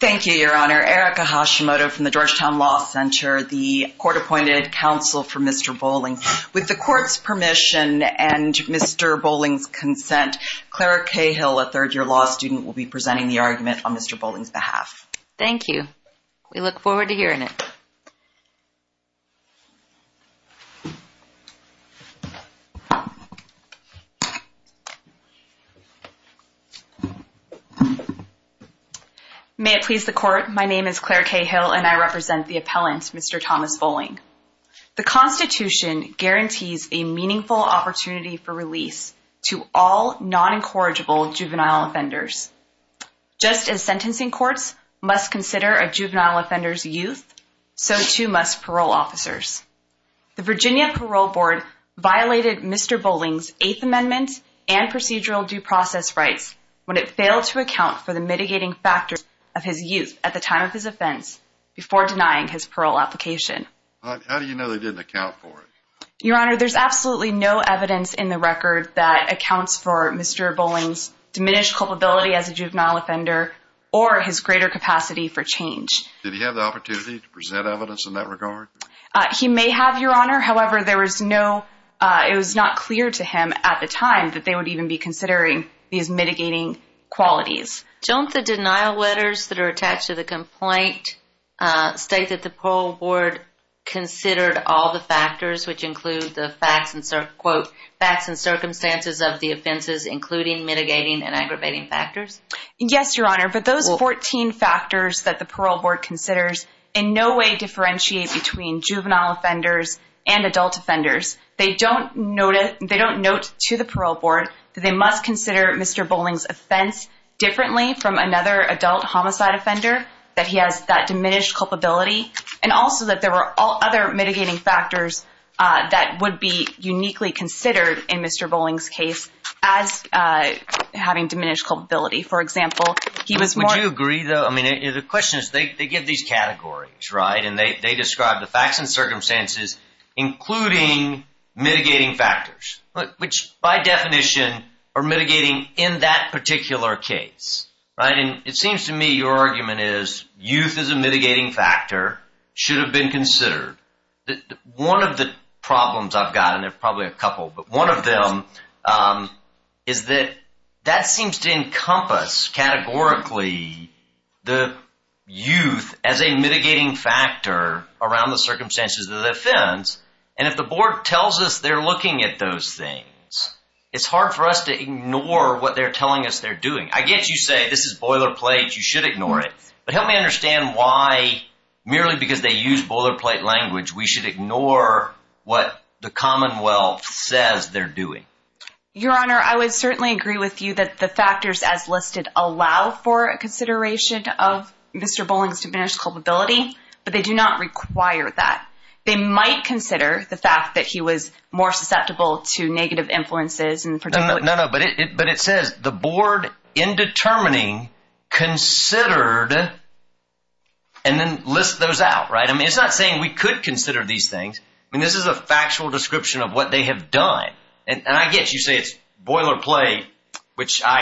Thank you, Your Honor. Erica Hashimoto from the Georgetown Law Center, the court-appointed counsel for Mr. Bowling. With the court's permission and Mr. Bowling's consent, Clara Cahill, a third-year law student, will be presenting the argument on Mr. Bowling's behalf. Thank you. We look forward to hearing it. May it please the court, my name is Clara Cahill and I represent the appellant, Mr. Thomas Bowling. The Constitution guarantees a meaningful opportunity for release to all non-incorrigible juvenile offenders. Just as sentencing courts must consider a juvenile offender's youth, so too must parole officers. The Virginia Parole Board violated Mr. Bowling's Eighth How do you know they didn't account for it? Your Honor, there's absolutely no evidence in the record that accounts for Mr. Bowling's diminished culpability as a juvenile offender or his greater capacity for change. Did he have the opportunity to present evidence in that regard? He may have, Your Honor, however there was no, it was not clear to him at the time that they would even be considering these mitigating qualities. Don't the denial letters that are attached to the complaint state that the Parole Board considered all the factors which include the facts and, quote, facts and circumstances of the offenses including mitigating and aggravating factors? Yes, Your Honor, but those 14 factors that the Parole Board considers in no way differentiate between juvenile offenders and adult offenders. They don't notice, quote, to the Parole Board that they must consider Mr. Bowling's offense differently from another adult homicide offender, that he has that diminished culpability, and also that there were all other mitigating factors that would be uniquely considered in Mr. Bowling's case as having diminished culpability. For example, he was more... Would you agree, though, I mean the question is they give these categories, right, and they describe the facts and circumstances including mitigating factors, which by definition are mitigating in that particular case, right, and it seems to me your argument is youth is a mitigating factor, should have been considered. One of the problems I've got, and there's probably a couple, but one of them is that that seems to encompass categorically the youth as a mitigating factor around the circumstances of the offense, and if the board tells us they're looking at those things, it's hard for us to ignore what they're telling us they're doing. I get you say this is boilerplate, you should ignore it, but help me understand why, merely because they use boilerplate language, we should ignore what the Commonwealth says they're doing. Your Honor, I would certainly agree with you that the factors as listed allow for a consideration of Mr. Bowling's diminished culpability, but they do not require that. They might consider the fact that he was more susceptible to negative influences... No, no, but it says the board in determining considered, and then list those out, right, I mean it's not saying we could consider these things, I mean this is a factual description of what they have done, and I get you say it's boilerplate, which I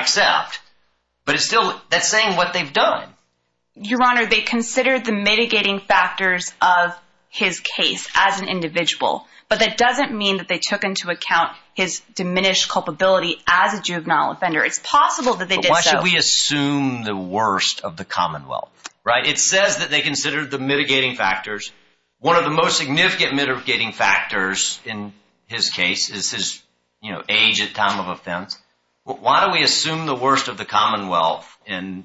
consider the mitigating factors of his case as an individual, but that doesn't mean that they took into account his diminished culpability as a juvenile offender. It's possible that they did so. Why should we assume the worst of the Commonwealth, right? It says that they considered the mitigating factors. One of the most significant mitigating factors in his case is his, you know, age at time of offense. Why do we assume the worst of the Commonwealth in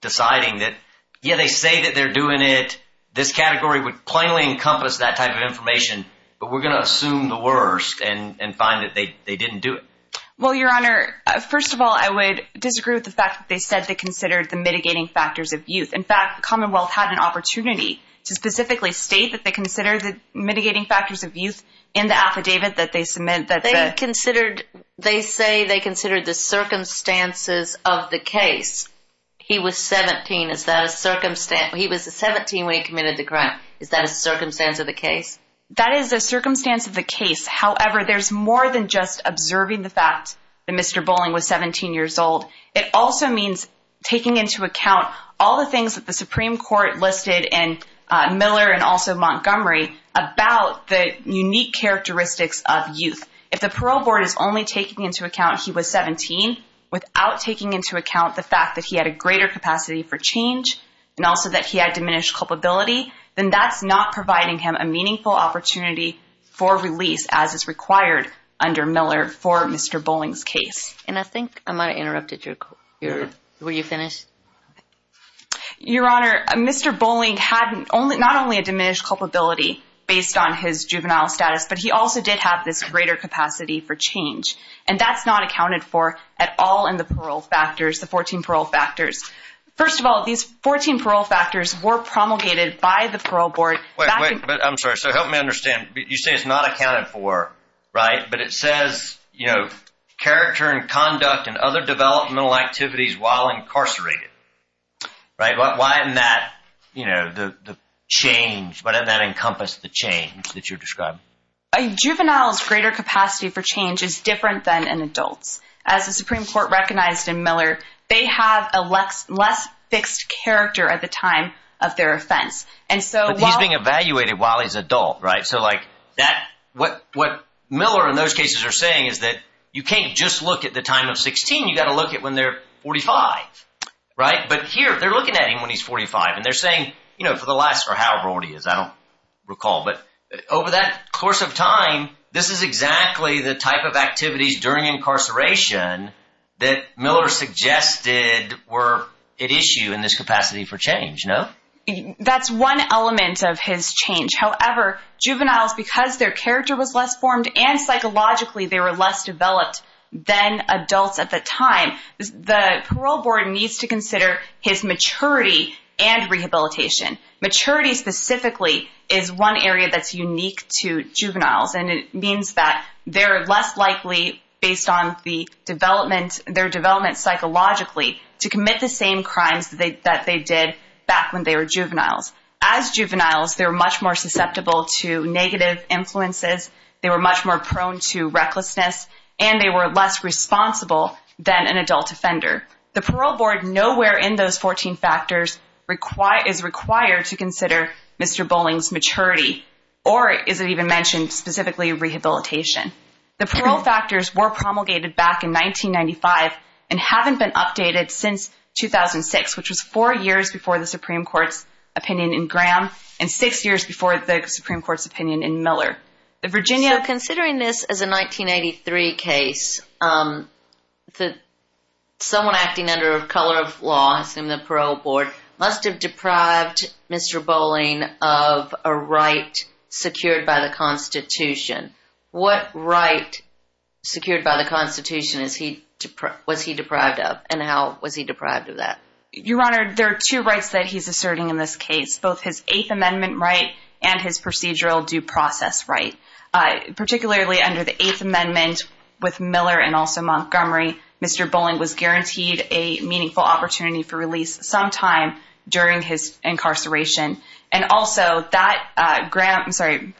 deciding that, yeah, they say that they're doing it, this category would plainly encompass that type of information, but we're going to assume the worst and find that they didn't do it? Well, Your Honor, first of all, I would disagree with the fact that they said they considered the mitigating factors of youth. In fact, the Commonwealth had an opportunity to specifically state that they considered the mitigating factors of youth in the affidavit that they submit. They considered, they say they considered the circumstances of the case. He was 17. Is that a circumstance? He was 17 when he committed the crime. Is that a circumstance of the case? That is a circumstance of the case. However, there's more than just observing the fact that Mr. Bolling was 17 years old. It also means taking into account all the things that the Supreme Court listed in Miller and also Montgomery about the unique characteristics of youth. If the parole board is only taking into account he was 17 without taking into account the fact that he had a greater capacity for change and also that he had diminished culpability, then that's not providing him a meaningful opportunity for release as is required under Miller for Mr. Bolling's case. And I think I might have interrupted you. Were you finished? Your Honor, Mr. Bolling had not only a diminished culpability based on his juvenile status, but he also did have this greater capacity for change. And that's not accounted for at all in the parole factors, the 14 parole factors. First of all, these 14 parole factors were promulgated by the parole board. But I'm sorry, so help me understand. You say it's not accounted for, right? But it says, you know, character and conduct and other developmental activities while incarcerated, right? Why isn't that, you know, the change, why doesn't that encompass the change that you're describing? A juvenile's greater capacity for change is different than an adult's. As the Supreme Court recognized in Miller, they have a less fixed character at the time of their offense. And so... But he's being evaluated while he's adult, right? So like that, what Miller in those cases are saying is that you can't just look at the time of 16, you got to look at when they're 45, right? But here, they're looking at him when he's 45 and they're saying, you know, for the last, or however old he is, I don't recall. But over that course of time, this is exactly the type of activities during incarceration that Miller suggested were at issue in this capacity for change, no? That's one element of his change. However, juveniles, because their character was less formed and psychologically they were less developed than adults at the time, the parole board needs to consider his specifically is one area that's unique to juveniles. And it means that they're less likely, based on the development, their development psychologically, to commit the same crimes that they did back when they were juveniles. As juveniles, they're much more susceptible to negative influences, they were much more prone to recklessness, and they were less responsible than an adult offender. The parole board, nowhere in those 14 factors, is required to consider Mr. Bolling's maturity, or is it even mentioned specifically, rehabilitation. The parole factors were promulgated back in 1995 and haven't been updated since 2006, which was four years before the Supreme Court's opinion in Graham and six years before the Supreme Court's opinion in Miller. The Virginia... So considering this as a 1983 case, someone acting under a color of law, I assume the parole board, must have deprived Mr. Bolling of a right secured by the Constitution. What right secured by the Constitution was he deprived of, and how was he deprived of that? Your Honor, there are two rights that he's asserting in this case, both his Eighth Amendment right and his procedural due process right. Particularly under the Eighth Amendment, with Miller and also Montgomery, Mr. Bolling was guaranteed a during his incarceration. And also,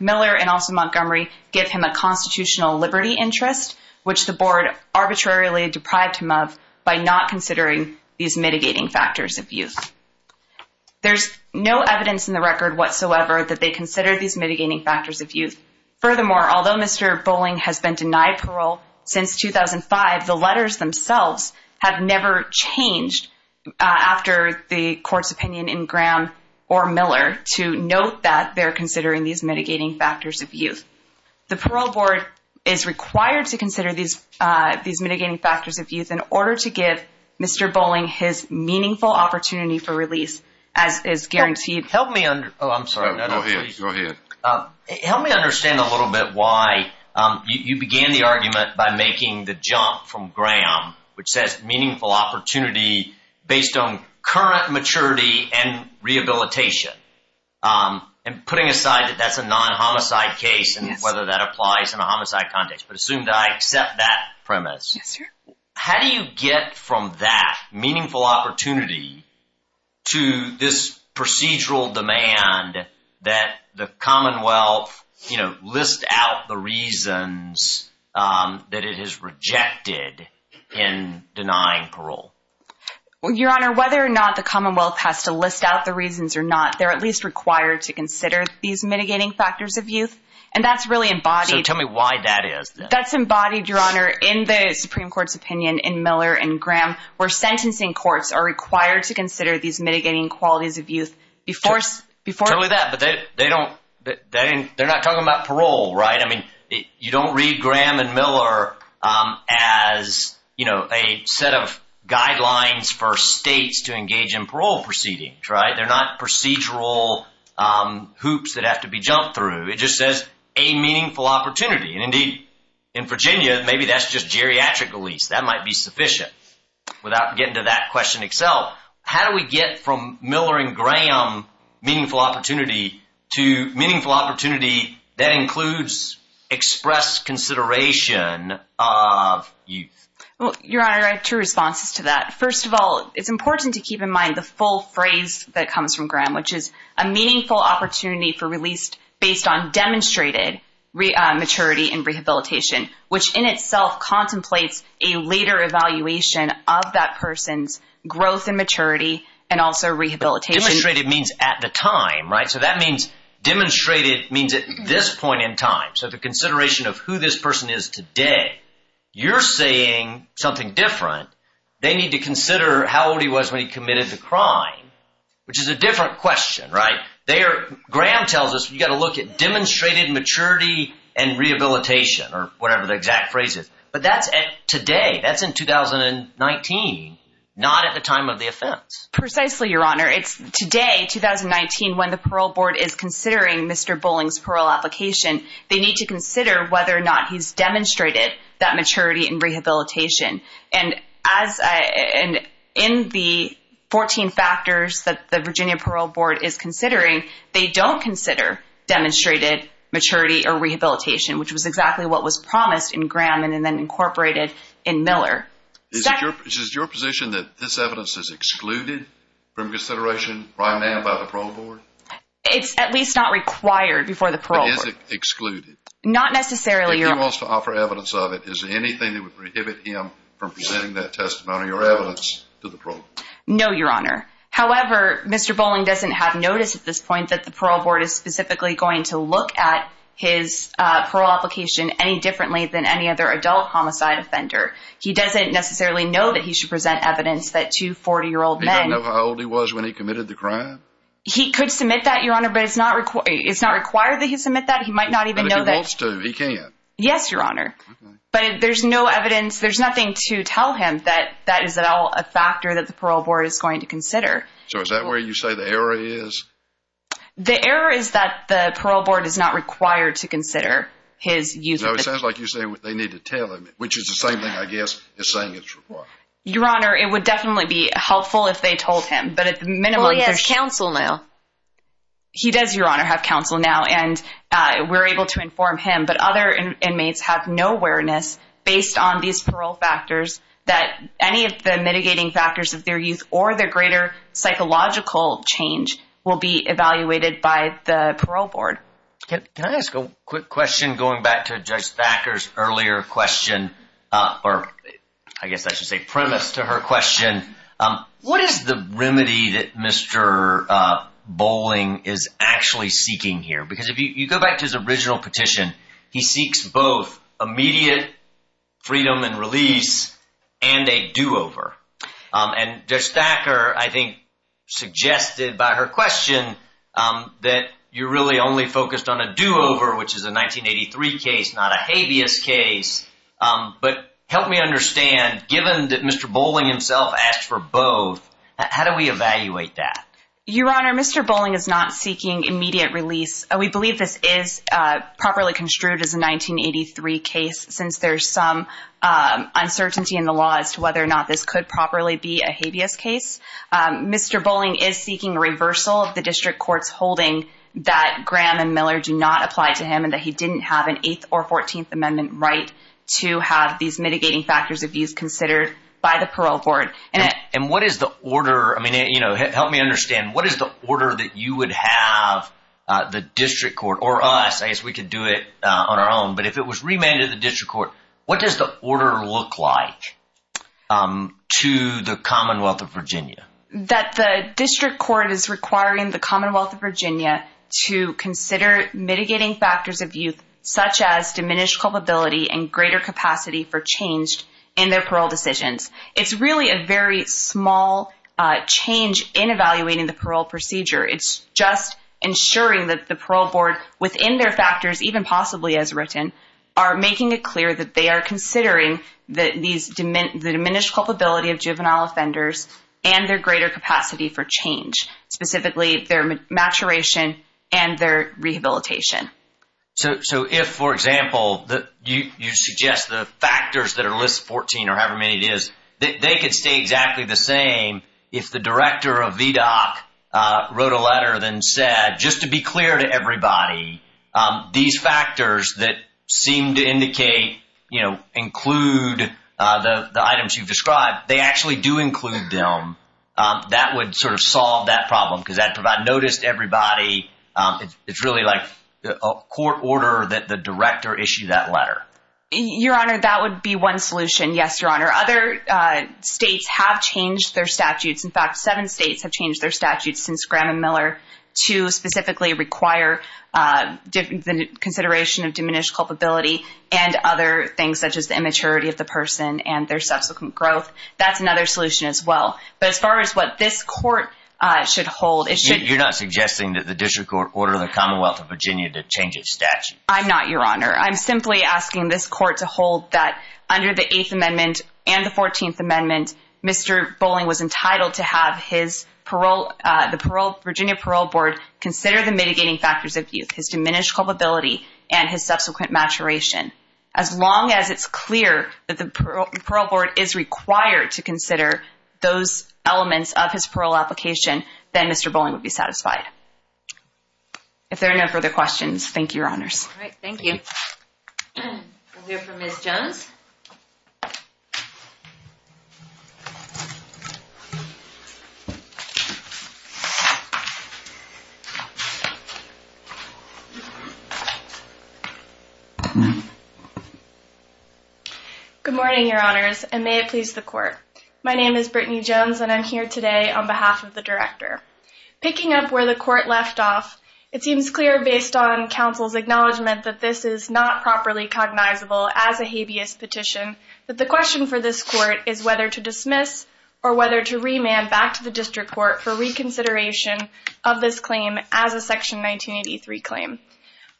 Miller and also Montgomery give him a constitutional liberty interest, which the board arbitrarily deprived him of by not considering these mitigating factors of youth. There's no evidence in the record whatsoever that they considered these mitigating factors of youth. Furthermore, although Mr. Bolling has been denied parole since 2005, the letters themselves have never changed after the court's opinion in Graham or Miller to note that they're considering these mitigating factors of youth. The parole board is required to consider these mitigating factors of youth in order to give Mr. Bolling his meaningful opportunity for release, as is guaranteed. Help me under... Oh, I'm sorry. No, go ahead. Help me understand a little bit why you began the argument by making the jump from Graham, which says meaningful opportunity based on current maturity and rehabilitation. And putting aside that that's a non-homicide case and whether that applies in a homicide context, but assume that I accept that premise. How do you get from that meaningful opportunity to this procedural demand that the court did in denying parole? Well, your honor, whether or not the commonwealth has to list out the reasons or not, they're at least required to consider these mitigating factors of youth. And that's really embodied... So tell me why that is. That's embodied, your honor, in the Supreme Court's opinion in Miller and Graham, where sentencing courts are required to consider these mitigating qualities of youth before... Totally that, but they don't... They're not talking about parole, right? I mean, you don't read Graham and Miller as, you know, a set of guidelines for states to engage in parole proceedings, right? They're not procedural hoops that have to be jumped through. It just says a meaningful opportunity. And indeed, in Virginia, maybe that's just geriatric release. That might be sufficient. Without getting to that question itself, how do we get from Miller and Graham meaningful opportunity to meaningful opportunity that includes expressed consideration of youth? Well, your honor, I have two responses to that. First of all, it's important to keep in mind the full phrase that comes from Graham, which is a meaningful opportunity for release based on demonstrated maturity and rehabilitation, which in itself contemplates a later evaluation of that person's growth and maturity and also rehabilitation. Demonstrated means at the time, right? So that means demonstrated means at this point in time. So the consideration of who this person is today, you're saying something different. They need to consider how old he was when he committed the crime, which is a different question, right? Graham tells us you got to look at demonstrated maturity and rehabilitation or whatever the exact phrase is. But that's today. That's in 2019, not at the time of the offense. Precisely, your honor. It's today, 2019, when the parole board is considering Mr. Bowling's parole application, they need to consider whether or not he's demonstrated that maturity and rehabilitation. And as in the 14 factors that the Virginia Parole Board is considering, they don't consider demonstrated maturity or rehabilitation, which was exactly what was promised in Graham and then incorporated in Miller. Is it your position that this evidence is excluded from consideration by a man by the parole board? It's at least not required before the parole board. But is it excluded? Not necessarily, your honor. If he wants to offer evidence of it, is anything that would prohibit him from presenting that testimony or evidence to the parole board? No, your honor. However, Mr. Bowling doesn't have notice at this point that the parole board is specifically going to look at his parole application any differently than any other adult homicide offender. He doesn't necessarily know that he should present evidence that two 40-year-old men... He doesn't know how old he was when he committed the crime? He could submit that, your honor, but it's not required that he submit that. He might not even know that... But if he wants to, he can. Yes, your honor. But there's no evidence, there's nothing to tell him that that is a factor that the parole board is going to consider. So is that where you say the error is? The error is that the parole board is not required to consider his youth... No, it sounds like you say what they need to tell him, which is the same thing, I guess, as saying it's required. Your honor, it would definitely be helpful if they told him, but at the minimum... Well, he has counsel now. He does, your honor, have counsel now, and we're able to inform him. But other inmates have no awareness, based on these parole factors, that any of the mitigating factors of their youth or their greater psychological change will be evaluated by the parole board. Can I ask a quick question, going back to Judge Thacker's earlier question, or I guess I should say premise to her question. What is the remedy that Mr. Bowling is actually seeking here? Because if you go back to his original petition, he seeks both immediate freedom and release and a do-over. And Judge Thacker, I think, suggested by her question that you really only focused on a do-over, which is a 1983 case, not a habeas case. But help me understand, given that Mr. Bowling himself asked for both, how do we evaluate that? Your honor, Mr. Bowling is not seeking immediate release. We believe this is properly construed as a 1983 case, since there's some uncertainty in the law as to whether or not this could properly be a habeas case. Mr. Bowling is seeking reversal of the district court's holding that Graham and Miller do not apply to him and that he didn't have an 8th or 14th amendment right to have these mitigating factors of youth considered by the parole board. And what is the order, I mean, you know, help me understand, what is the order that you would have the district court, or us, I guess we could do it on our own, but if it was remanded to the district court, what does the order look like to the Commonwealth of Virginia? That the district court is requiring the Commonwealth of Virginia to consider mitigating factors of youth, such as diminished culpability and greater capacity for change in their parole decisions. It's really a very small change in evaluating the parole procedure. It's just ensuring that the they are considering the diminished culpability of juvenile offenders and their greater capacity for change, specifically their maturation and their rehabilitation. So if, for example, you suggest the factors that are listed, 14 or however many it is, they could stay exactly the same if the director of VDOC wrote a letter and said, just to be clear to include the items you've described, they actually do include them. That would sort of solve that problem because that would provide notice to everybody. It's really like a court order that the director issued that letter. Your Honor, that would be one solution, yes, Your Honor. Other states have changed their statutes. In fact, seven states have changed their statutes since Graham and Miller to specifically require the consideration of diminished culpability and other things such as the immaturity of the person and their subsequent growth. That's another solution as well. But as far as what this court should hold, it should... You're not suggesting that the district court order the Commonwealth of Virginia to change its statute? I'm not, Your Honor. I'm simply asking this court to hold that under the 8th Amendment and the 14th Amendment, Mr. Bowling was entitled to have the Virginia Parole Board consider the mitigating factors of youth, his diminished culpability and his subsequent maturation. As long as it's clear that the parole board is required to consider those elements of his parole application, then Mr. Bowling would be satisfied. If there are no further questions, thank you, Your Honors. All right, thank you. We'll hear from Ms. Jones. Good morning, Your Honors, and may it please the court. My name is Brittany Jones and I'm here today on behalf of the director. Picking up where the court left off, it seems clear based on counsel's acknowledgement that this is not properly cognizable as a habeas petition, that the question for this court is whether to dismiss or whether to remand back to the district court for reconsideration of this claim as a Section 1983 claim.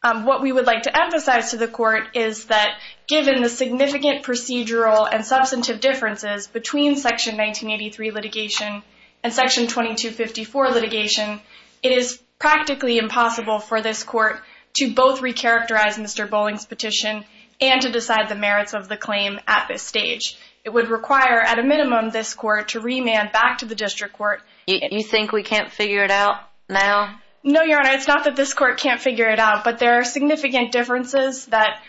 What we would like to emphasize to the court is that given the significant procedural and substantive differences between Section 1983 litigation and Section 2254 litigation, it is practically impossible for this court to both recharacterize Mr. Bowling's petition and to decide the merits of the claim at this stage. It would require at a minimum this court to remand back to the district court. You think we can't figure it out now? No, Your Honor, it's not that this court can't figure it out, but there are significant differences that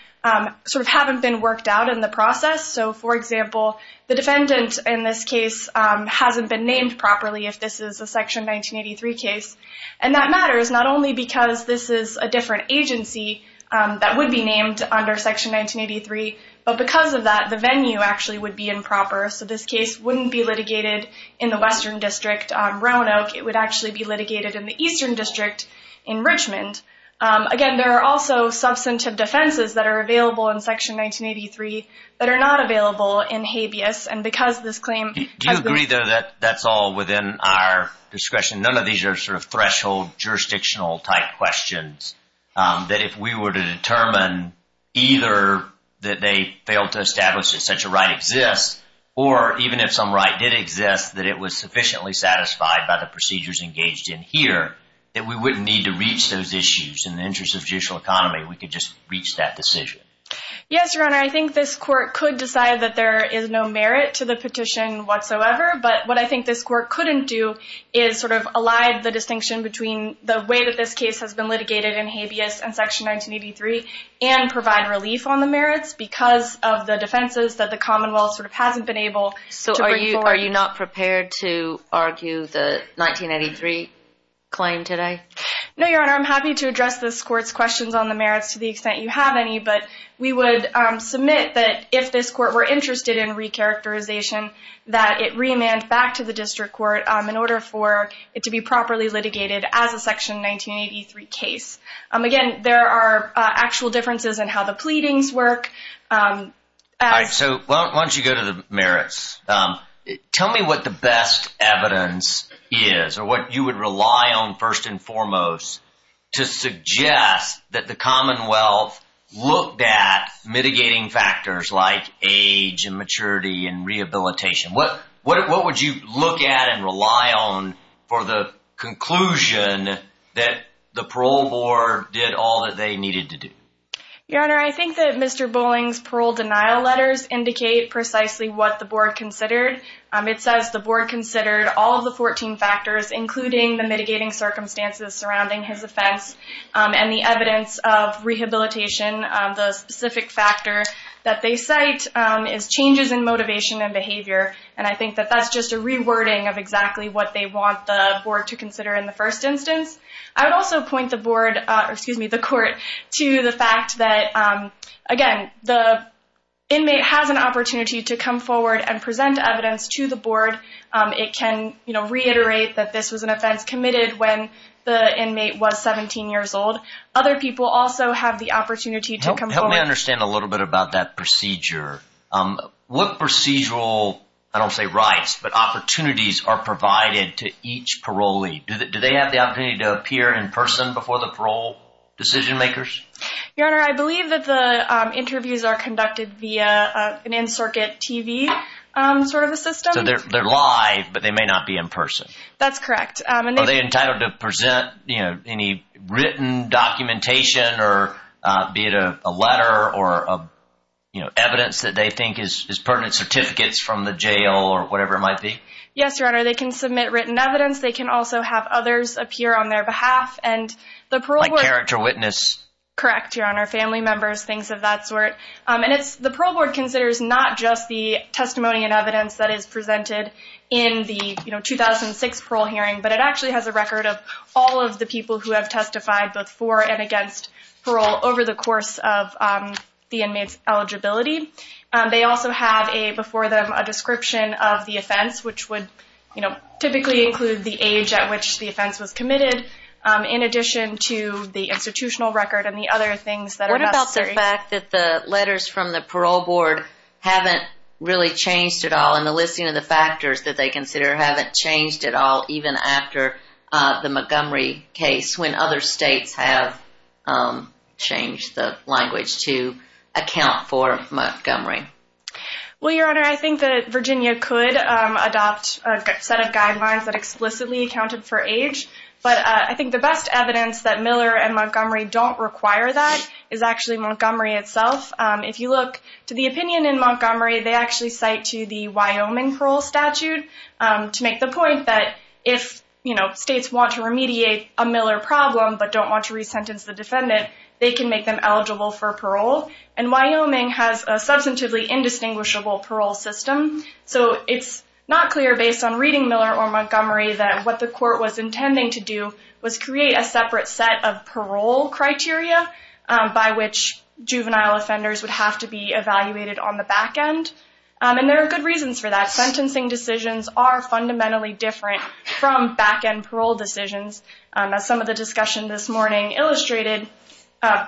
sort of haven't been worked out in the process. So, for example, the defendant in this case hasn't been named properly if this is a Section 1983 case. And that matters not only because this is a different agency that would be named under Section 1983, but because of that, the venue actually would be improper. So this case wouldn't be litigated in the Western District on Roanoke. It would actually be litigated in the Eastern District in Richmond. Again, there are also substantive defenses that are available in Section 1983 that are not available in habeas, and because this claim Do you agree, though, that that's all within our discretion? None of these are sort of threshold jurisdictional type questions, that if we were to determine either that they failed to establish that such a right exists, or even if some right did exist, that it was sufficiently satisfied by the procedures engaged in here, that we wouldn't need to reach those issues in the interest of judicial economy. We could just reach that decision. Yes, Your Honor, I think this court could decide that there is no merit to the petition whatsoever, but what I think this court couldn't do is sort of elide the distinction between the way that this case has been litigated in habeas and Section 1983, and provide relief on the prepared to argue the 1983 claim today? No, Your Honor, I'm happy to address this court's questions on the merits to the extent you have any, but we would submit that if this court were interested in re-characterization, that it re-amends back to the District Court in order for it to be properly litigated as a Section 1983 case. Again, there are actual differences in how the pleadings work. All right, so why don't you go to the merits. Tell me what the best evidence is, or what you would rely on first and foremost to suggest that the Commonwealth looked at mitigating factors like age and maturity and rehabilitation. What would you look at and rely on for the conclusion that the parole board did all that they needed to do? Your Honor, I think that Mr. Bowling's parole denial letters indicate precisely what the board considered. It says the board considered all of the 14 factors, including the mitigating circumstances surrounding his offense and the evidence of rehabilitation. The specific factor that they cite is changes in motivation and behavior, and I think that that's just a re-wording of exactly what they want the board to consider in the first instance. I would also point the court to the fact that, again, the inmate has an opportunity to come forward and present evidence to the board. It can reiterate that this was an offense committed when the inmate was 17 years old. Other people also have the opportunity to come forward. Let me understand a little bit about that procedure. What procedural, I don't say rights, but opportunities are provided to each parolee? Do they have the opportunity to appear in person before the parole decision makers? Your Honor, I believe that the interviews are conducted via an in-circuit TV sort of a system. So they're live, but they may not be in person? That's correct. Are they entitled to present any written documentation or be it a letter or evidence that they think is pertinent certificates from the jail or whatever it might be? Yes, Your Honor, they can submit written evidence. They can also have others appear on their behalf. Like character witness? Correct, Your Honor, family members, things of that sort. The parole board considers not just the record, but actually has a record of all of the people who have testified both for and against parole over the course of the inmate's eligibility. They also have before them a description of the offense, which would typically include the age at which the offense was committed in addition to the institutional record and the other things that are necessary. What about the fact that the letters from the parole board haven't really changed at all in the listing of the factors that they consider haven't changed at all even after the Montgomery case when other states have changed the language to account for Montgomery? Well, Your Honor, I think that Virginia could adopt a set of guidelines that explicitly accounted for age, but I think the best evidence that Miller and Montgomery don't require that is actually Montgomery itself. If you look to the opinion in Montgomery, they actually cite to the Wyoming parole statute to make the point that if states want to remediate a Miller problem but don't want to resentence the defendant, they can make them eligible for parole. And Wyoming has a substantively indistinguishable parole system. So it's not clear based on reading Miller or Montgomery that what the court was going to do. And there are good reasons for that. Sentencing decisions are fundamentally different from back-end parole decisions. As some of the discussion this morning illustrated,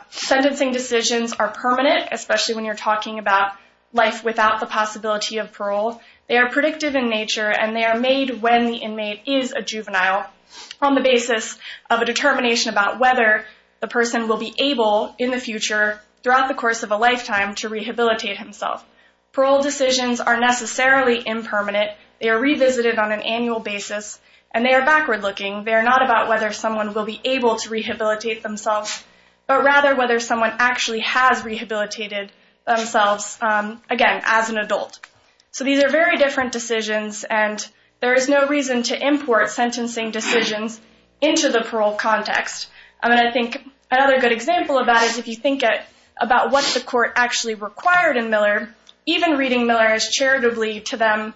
sentencing decisions are permanent, especially when you're talking about life without the possibility of parole. They are predictive in nature, and they are made when the inmate is a juvenile on the basis of a determination about whether the person will be able in the future, throughout the course of a lifetime, to rehabilitate himself. Parole decisions are necessarily impermanent. They are revisited on an annual basis, and they are backward looking. They are not about whether someone will be able to rehabilitate themselves, but rather whether someone actually has rehabilitated themselves, again, as an adult. So these are very different decisions, and there is no reason to import sentencing decisions into the parole context. I mean, I think another good example of that is if you think about what the court actually required in Miller, even reading Miller as charitably to them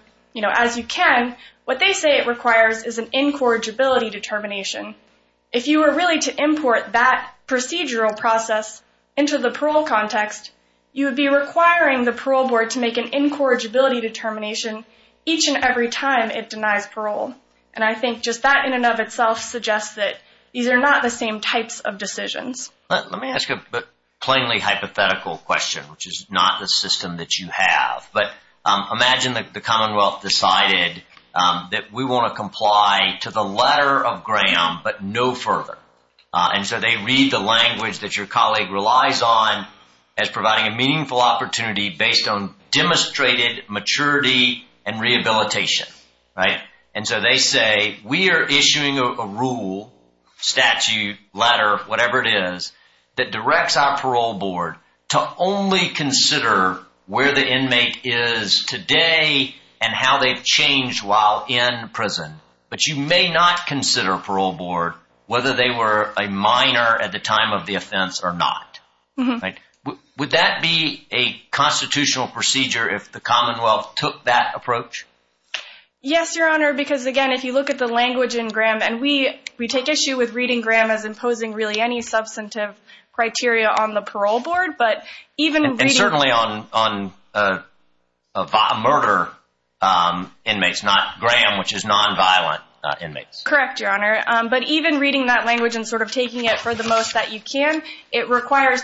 as you can, what they say it requires is an incorrigibility determination. If you were really to import that procedural process into the parole context, you would be requiring the parole board to make an incorrigibility determination each and every time it denies parole. And I think just that in and of itself suggests that these are not the same types of decisions. Let me ask a plainly hypothetical question, which is not the system that you have. But imagine the Commonwealth decided that we want to comply to the statute that your colleague relies on as providing a meaningful opportunity based on demonstrated maturity and rehabilitation, right? And so they say, we are issuing a rule, statute, letter, whatever it is, that directs our parole board to only consider where the inmate is today and how they've changed while in prison. But you may not consider parole board whether they were a minor at the time of the offense or not. Would that be a constitutional procedure if the Commonwealth took that approach? Yes, Your Honor, because again, if you look at the language in Graham, and we take issue with reading Graham as imposing really any substantive criteria on the parole board. And certainly on murder inmates, not Graham, which is nonviolent inmates. Correct, Your Honor. But even reading that language and sort of taking it for the most that you can, it would require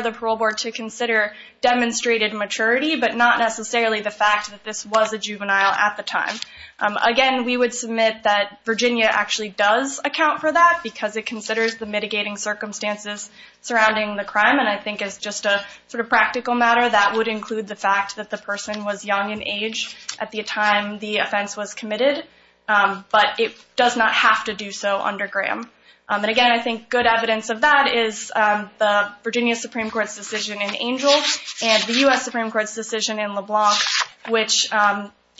the parole board to consider demonstrated maturity, but not necessarily the fact that this was a juvenile at the time. Again, we would submit that Virginia actually does account for that because it considers the mitigating circumstances surrounding the crime. And I think it's just a sort of practical matter that would include the fact that the person was young in age at the time the offense was committed. But it does not have to do so under Graham. And again, I think good evidence of that is the Virginia Supreme Court's decision in Angel and the U.S. Supreme Court's decision in LeBlanc, which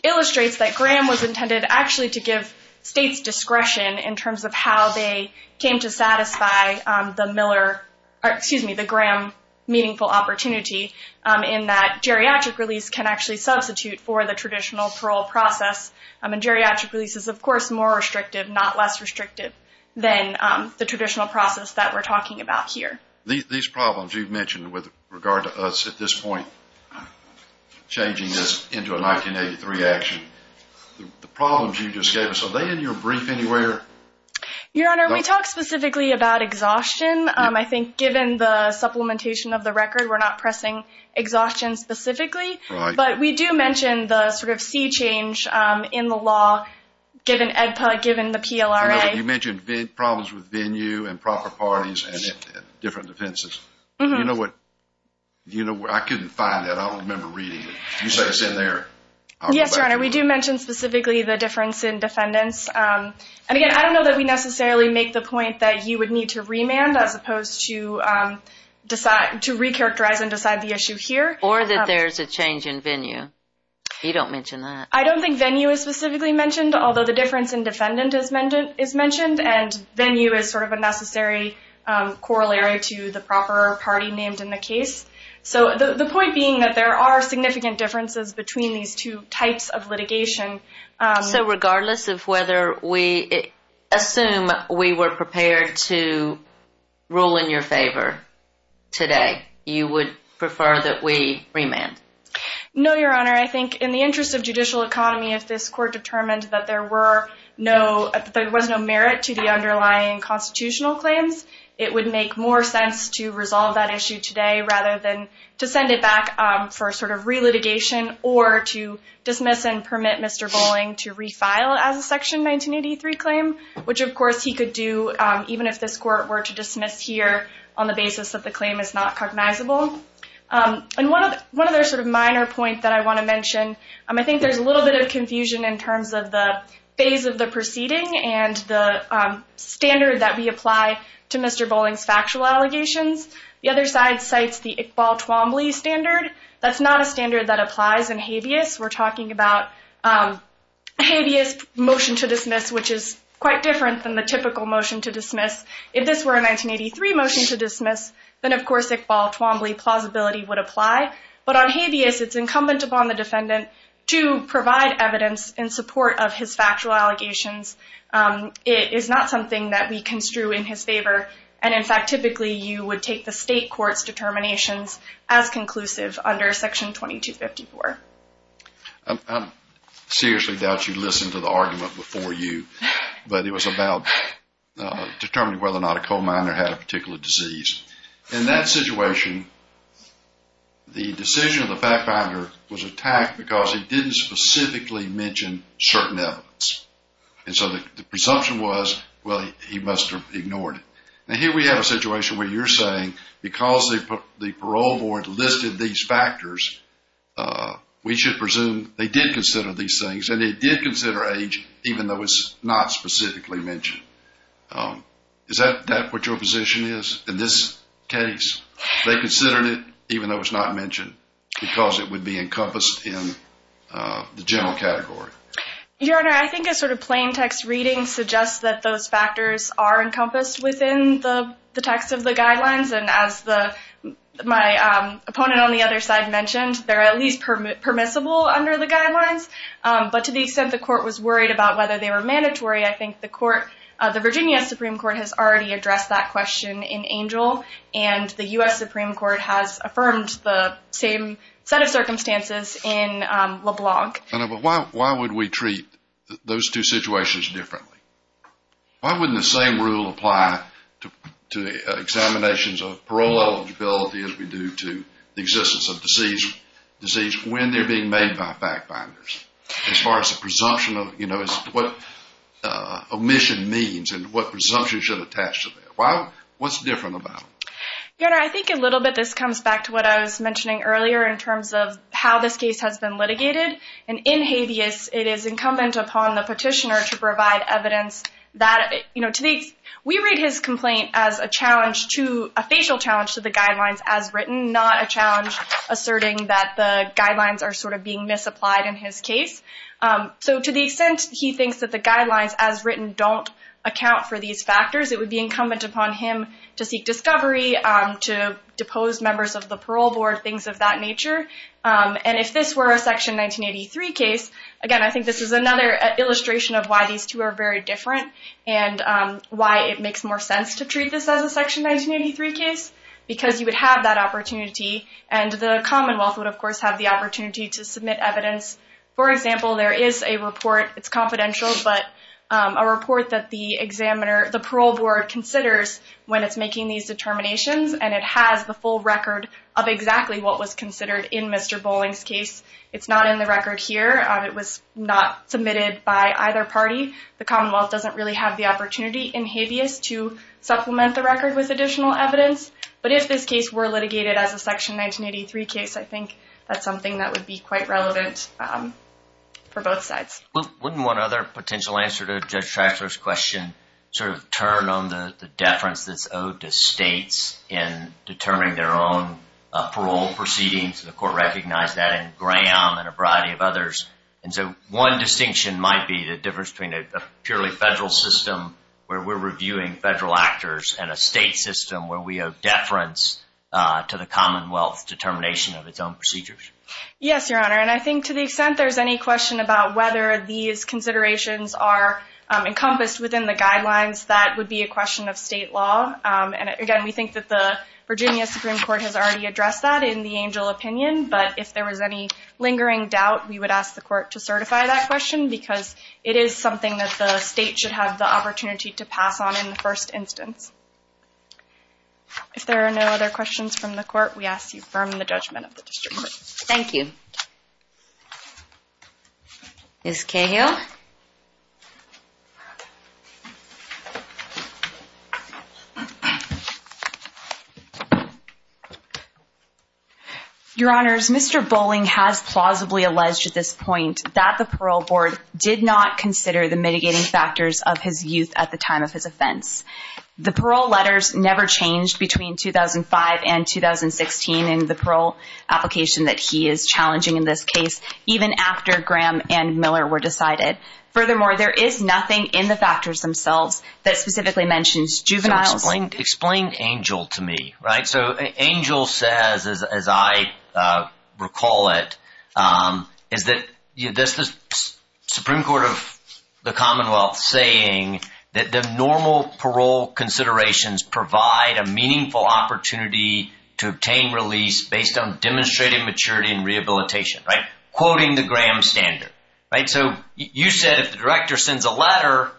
illustrates that Graham was intended actually to give states discretion in terms of how they came to satisfy the Graham meaningful opportunity in that geriatric release can actually substitute for the traditional parole process. And geriatric release is, of course, more restrictive, not less restrictive, than the traditional process that we're talking about here. These problems you've mentioned with regard to us at this point changing this into a 1983 action, the problems you just gave us, are they in your brief anywhere? Your Honor, we talked specifically about exhaustion. I think given the supplementation of the record, we're not pressing exhaustion specifically. But we do mention the sort of sea change in the law given the PLRA. You mentioned problems with venue and proper parties and different defenses. I couldn't find that. I don't remember reading it. You said it's in there. Yes, Your Honor. We do mention specifically the difference in defendants. And again, I don't know that we necessarily make the point that you would need to remand as opposed to recharacterize and decide the issue here. Or that there's a change in venue. You don't mention that. I don't think venue is specifically mentioned, although the difference in defendant is mentioned. And venue is sort of a necessary corollary to the proper party named in the case. So the point being that there are significant differences between these two types of litigation. So regardless of whether we assume we were prepared to rule in your favor today, you would prefer that we remand? No, Your Honor. I think in the interest of judicial economy, if this court determined that there was no merit to the underlying constitutional claims, it would make more sense to resolve that issue today rather than to send it back for sort of re-litigation or to dismiss and permit Mr. Bowling to refile as a Section 1983 claim, which of course he could do even if this court were to dismiss here on the basis that the claim is not cognizable. And one other sort of minor point that I want to mention, I think there's a little bit of confusion in terms of the phase of the proceeding and the standard that we apply to Mr. Bowling's factual allegations. The other side cites the Iqbal Twombly standard. That's not a standard that applies in habeas. We're talking about habeas motion to dismiss, which is quite different than the typical motion to dismiss. If this were a 1983 motion to dismiss, then of course Iqbal Twombly plausibility would apply. But on habeas it's incumbent upon the defendant to provide evidence in support of his factual allegations. It is not something that we construe in his favor. And in fact typically you would take the state court's determinations as conclusive under Section 2254. I seriously doubt you listened to the argument before you, but it was about determining whether or not a coal miner had a particular disease. In that situation, the decision of the fat miner was attacked because he didn't specifically mention certain evidence. And so the presumption was, well, he must have ignored it. Now here we have a list of these factors. We should presume they did consider these things and they did consider age even though it's not specifically mentioned. Is that what your position is in this case? They considered it even though it's not mentioned because it would be encompassed in the general category? Your Honor, I think a sort of plain text reading suggests that those factors are encompassed in the text of the guidelines. And as my opponent on the other side mentioned, they're at least permissible under the guidelines. But to the extent the court was worried about whether they were mandatory, I think the Virginia Supreme Court has already addressed that question in Angel. And the U.S. Supreme Court has affirmed the same set of circumstances in LeBlanc. But why would we treat those two situations differently? Why wouldn't the same rule apply to examinations of parole eligibility as we do to the existence of deceased when they're being made by fat binders? As far as the presumption of what omission means and what presumption should attach to that. What's different about it? Your Honor, I think a little bit this comes back to what I was mentioning earlier in terms of how this case has been litigated. And in habeas, it is incumbent upon the petitioner to provide evidence. We read his complaint as a challenge to a facial challenge to the guidelines as written, not a challenge asserting that the guidelines are sort of being misapplied in his case. So to the extent he thinks that the guidelines as written don't account for these factors, it would be incumbent upon him to seek discovery, to depose members of the parole board, things of that nature. And if this were a Section 1983 case, again, I think this is another illustration of why these two are very different and why it makes more sense to treat this as a Section 1983 case. Because you would have that opportunity and the Commonwealth would of course have the opportunity to submit evidence. For example, there is a report it's confidential, but a report that the examiner, the parole board considers when it's making these determinations and it has the full record of exactly what was considered in Mr. Bowling's case. It's not in the record here. It was not submitted by either party. The Commonwealth doesn't really have the opportunity in habeas to supplement the record with additional evidence. But if this case were litigated as a Section 1983 case, I think that's something that would be quite relevant for both sides. Wouldn't one other potential answer to Judge Traxler's question sort of turn on the deference that's owed to states in determining their own parole proceedings? The Court recognized that in Graham and a variety of others. And so one distinction might be the difference between a purely federal system where we're reviewing federal actors and a state system where we owe deference to the Commonwealth's determination of its own procedures. Yes, Your Honor. And I think to the extent there's any question about whether these considerations are encompassed within the guidelines, that would be a question of state law. And again, we think that the Virginia Supreme Court has already addressed that in the Angel opinion. But if there was any lingering doubt, we would ask the Court to certify that question because it is something that the state should have the opportunity to pass on in the first instance. If there are no other questions from the Court, we ask you firm the judgment of the District Court. Thank you. Ms. Cahill? Your Honors, Mr. Bowling has plausibly alleged at this point that the Parole Board did not consider the mitigating factors of his youth at the time of his offense. The parole letters never changed between 2005 and 2016 in the parole application that he is challenging in this case, even after Graham and Miller were decided. Furthermore, there is nothing in the factors themselves that specifically mentions juveniles. Explain Angel to me, right? So Angel says, as I recall it, is that this Supreme Court of the Commonwealth saying that the normal parole considerations provide a meaningful opportunity to obtain release based on demonstrated maturity and rehabilitation, right? Quoting the Graham standard, right? So you said if the director sends a letter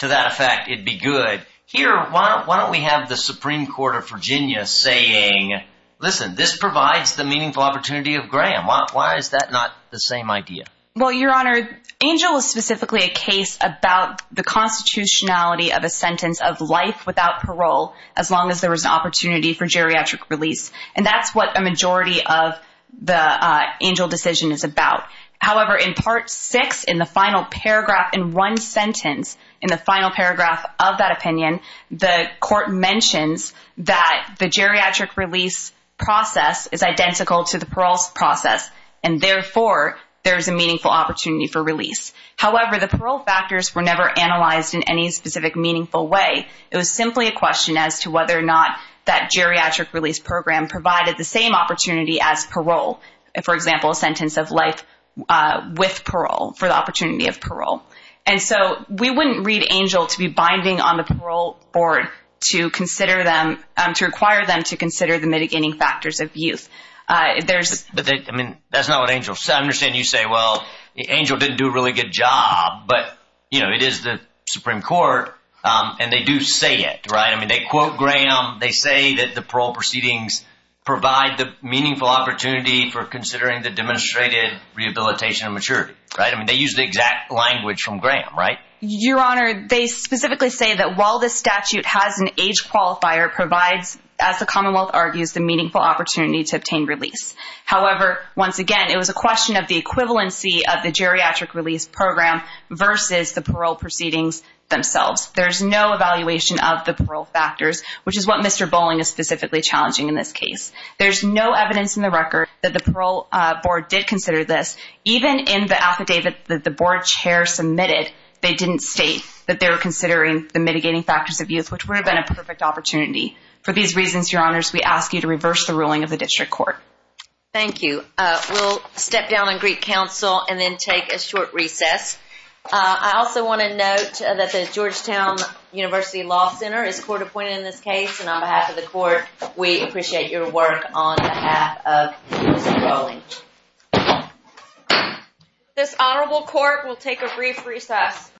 to that effect, it'd be good. Here, why don't we have the Supreme Court of Virginia saying, listen, this provides the meaningful opportunity of Graham. Why is that not the same idea? Well, Your Honor, Angel is specifically a case about the constitutionality of a sentence of life without parole, as long as there was an opportunity for geriatric release. And that's what a majority of the Angel decision is about. However, in part six, in the final paragraph, in one sentence, in the final paragraph of that opinion, the court mentions that the geriatric release process is identical to the parole process, and therefore there is a meaningful opportunity for release. However, the parole factors were never analyzed in any specific meaningful way. It was simply a question as to whether or not that geriatric release program provided the same opportunity as parole. For example, a sentence of life with parole for the opportunity of parole. And so we wouldn't read Angel to be binding on the parole board to require them to consider the mitigating factors of parole. Well, Angel didn't do a really good job, but, you know, it is the Supreme Court and they do say it, right? I mean, they quote Graham. They say that the parole proceedings provide the meaningful opportunity for considering the demonstrated rehabilitation of maturity, right? I mean, they use the exact language from Graham, right? Your Honor, they specifically say that while this statute has an age qualifier, it provides, as the Commonwealth argues, the meaningful opportunity to obtain release. However, once again, it was a question of the equivalency of the geriatric release program versus the parole proceedings themselves. There's no evaluation of the parole factors, which is what Mr. Bolling is specifically challenging in this case. There's no evidence in the record that the parole board did consider this. Even in the affidavit that the board chair submitted, they didn't state that they were considering the mitigating factors of youth, which would have been a perfect opportunity. For these reasons, Your Honors, we ask you to reverse the ruling of the district court. Thank you. We'll step down on Greek Council and then take a short recess. I also want to note that the Georgetown University Law Center is court appointed in this case, and on behalf of the court, we appreciate your work on behalf of Mr. Bolling. This honorable court will take a brief recess.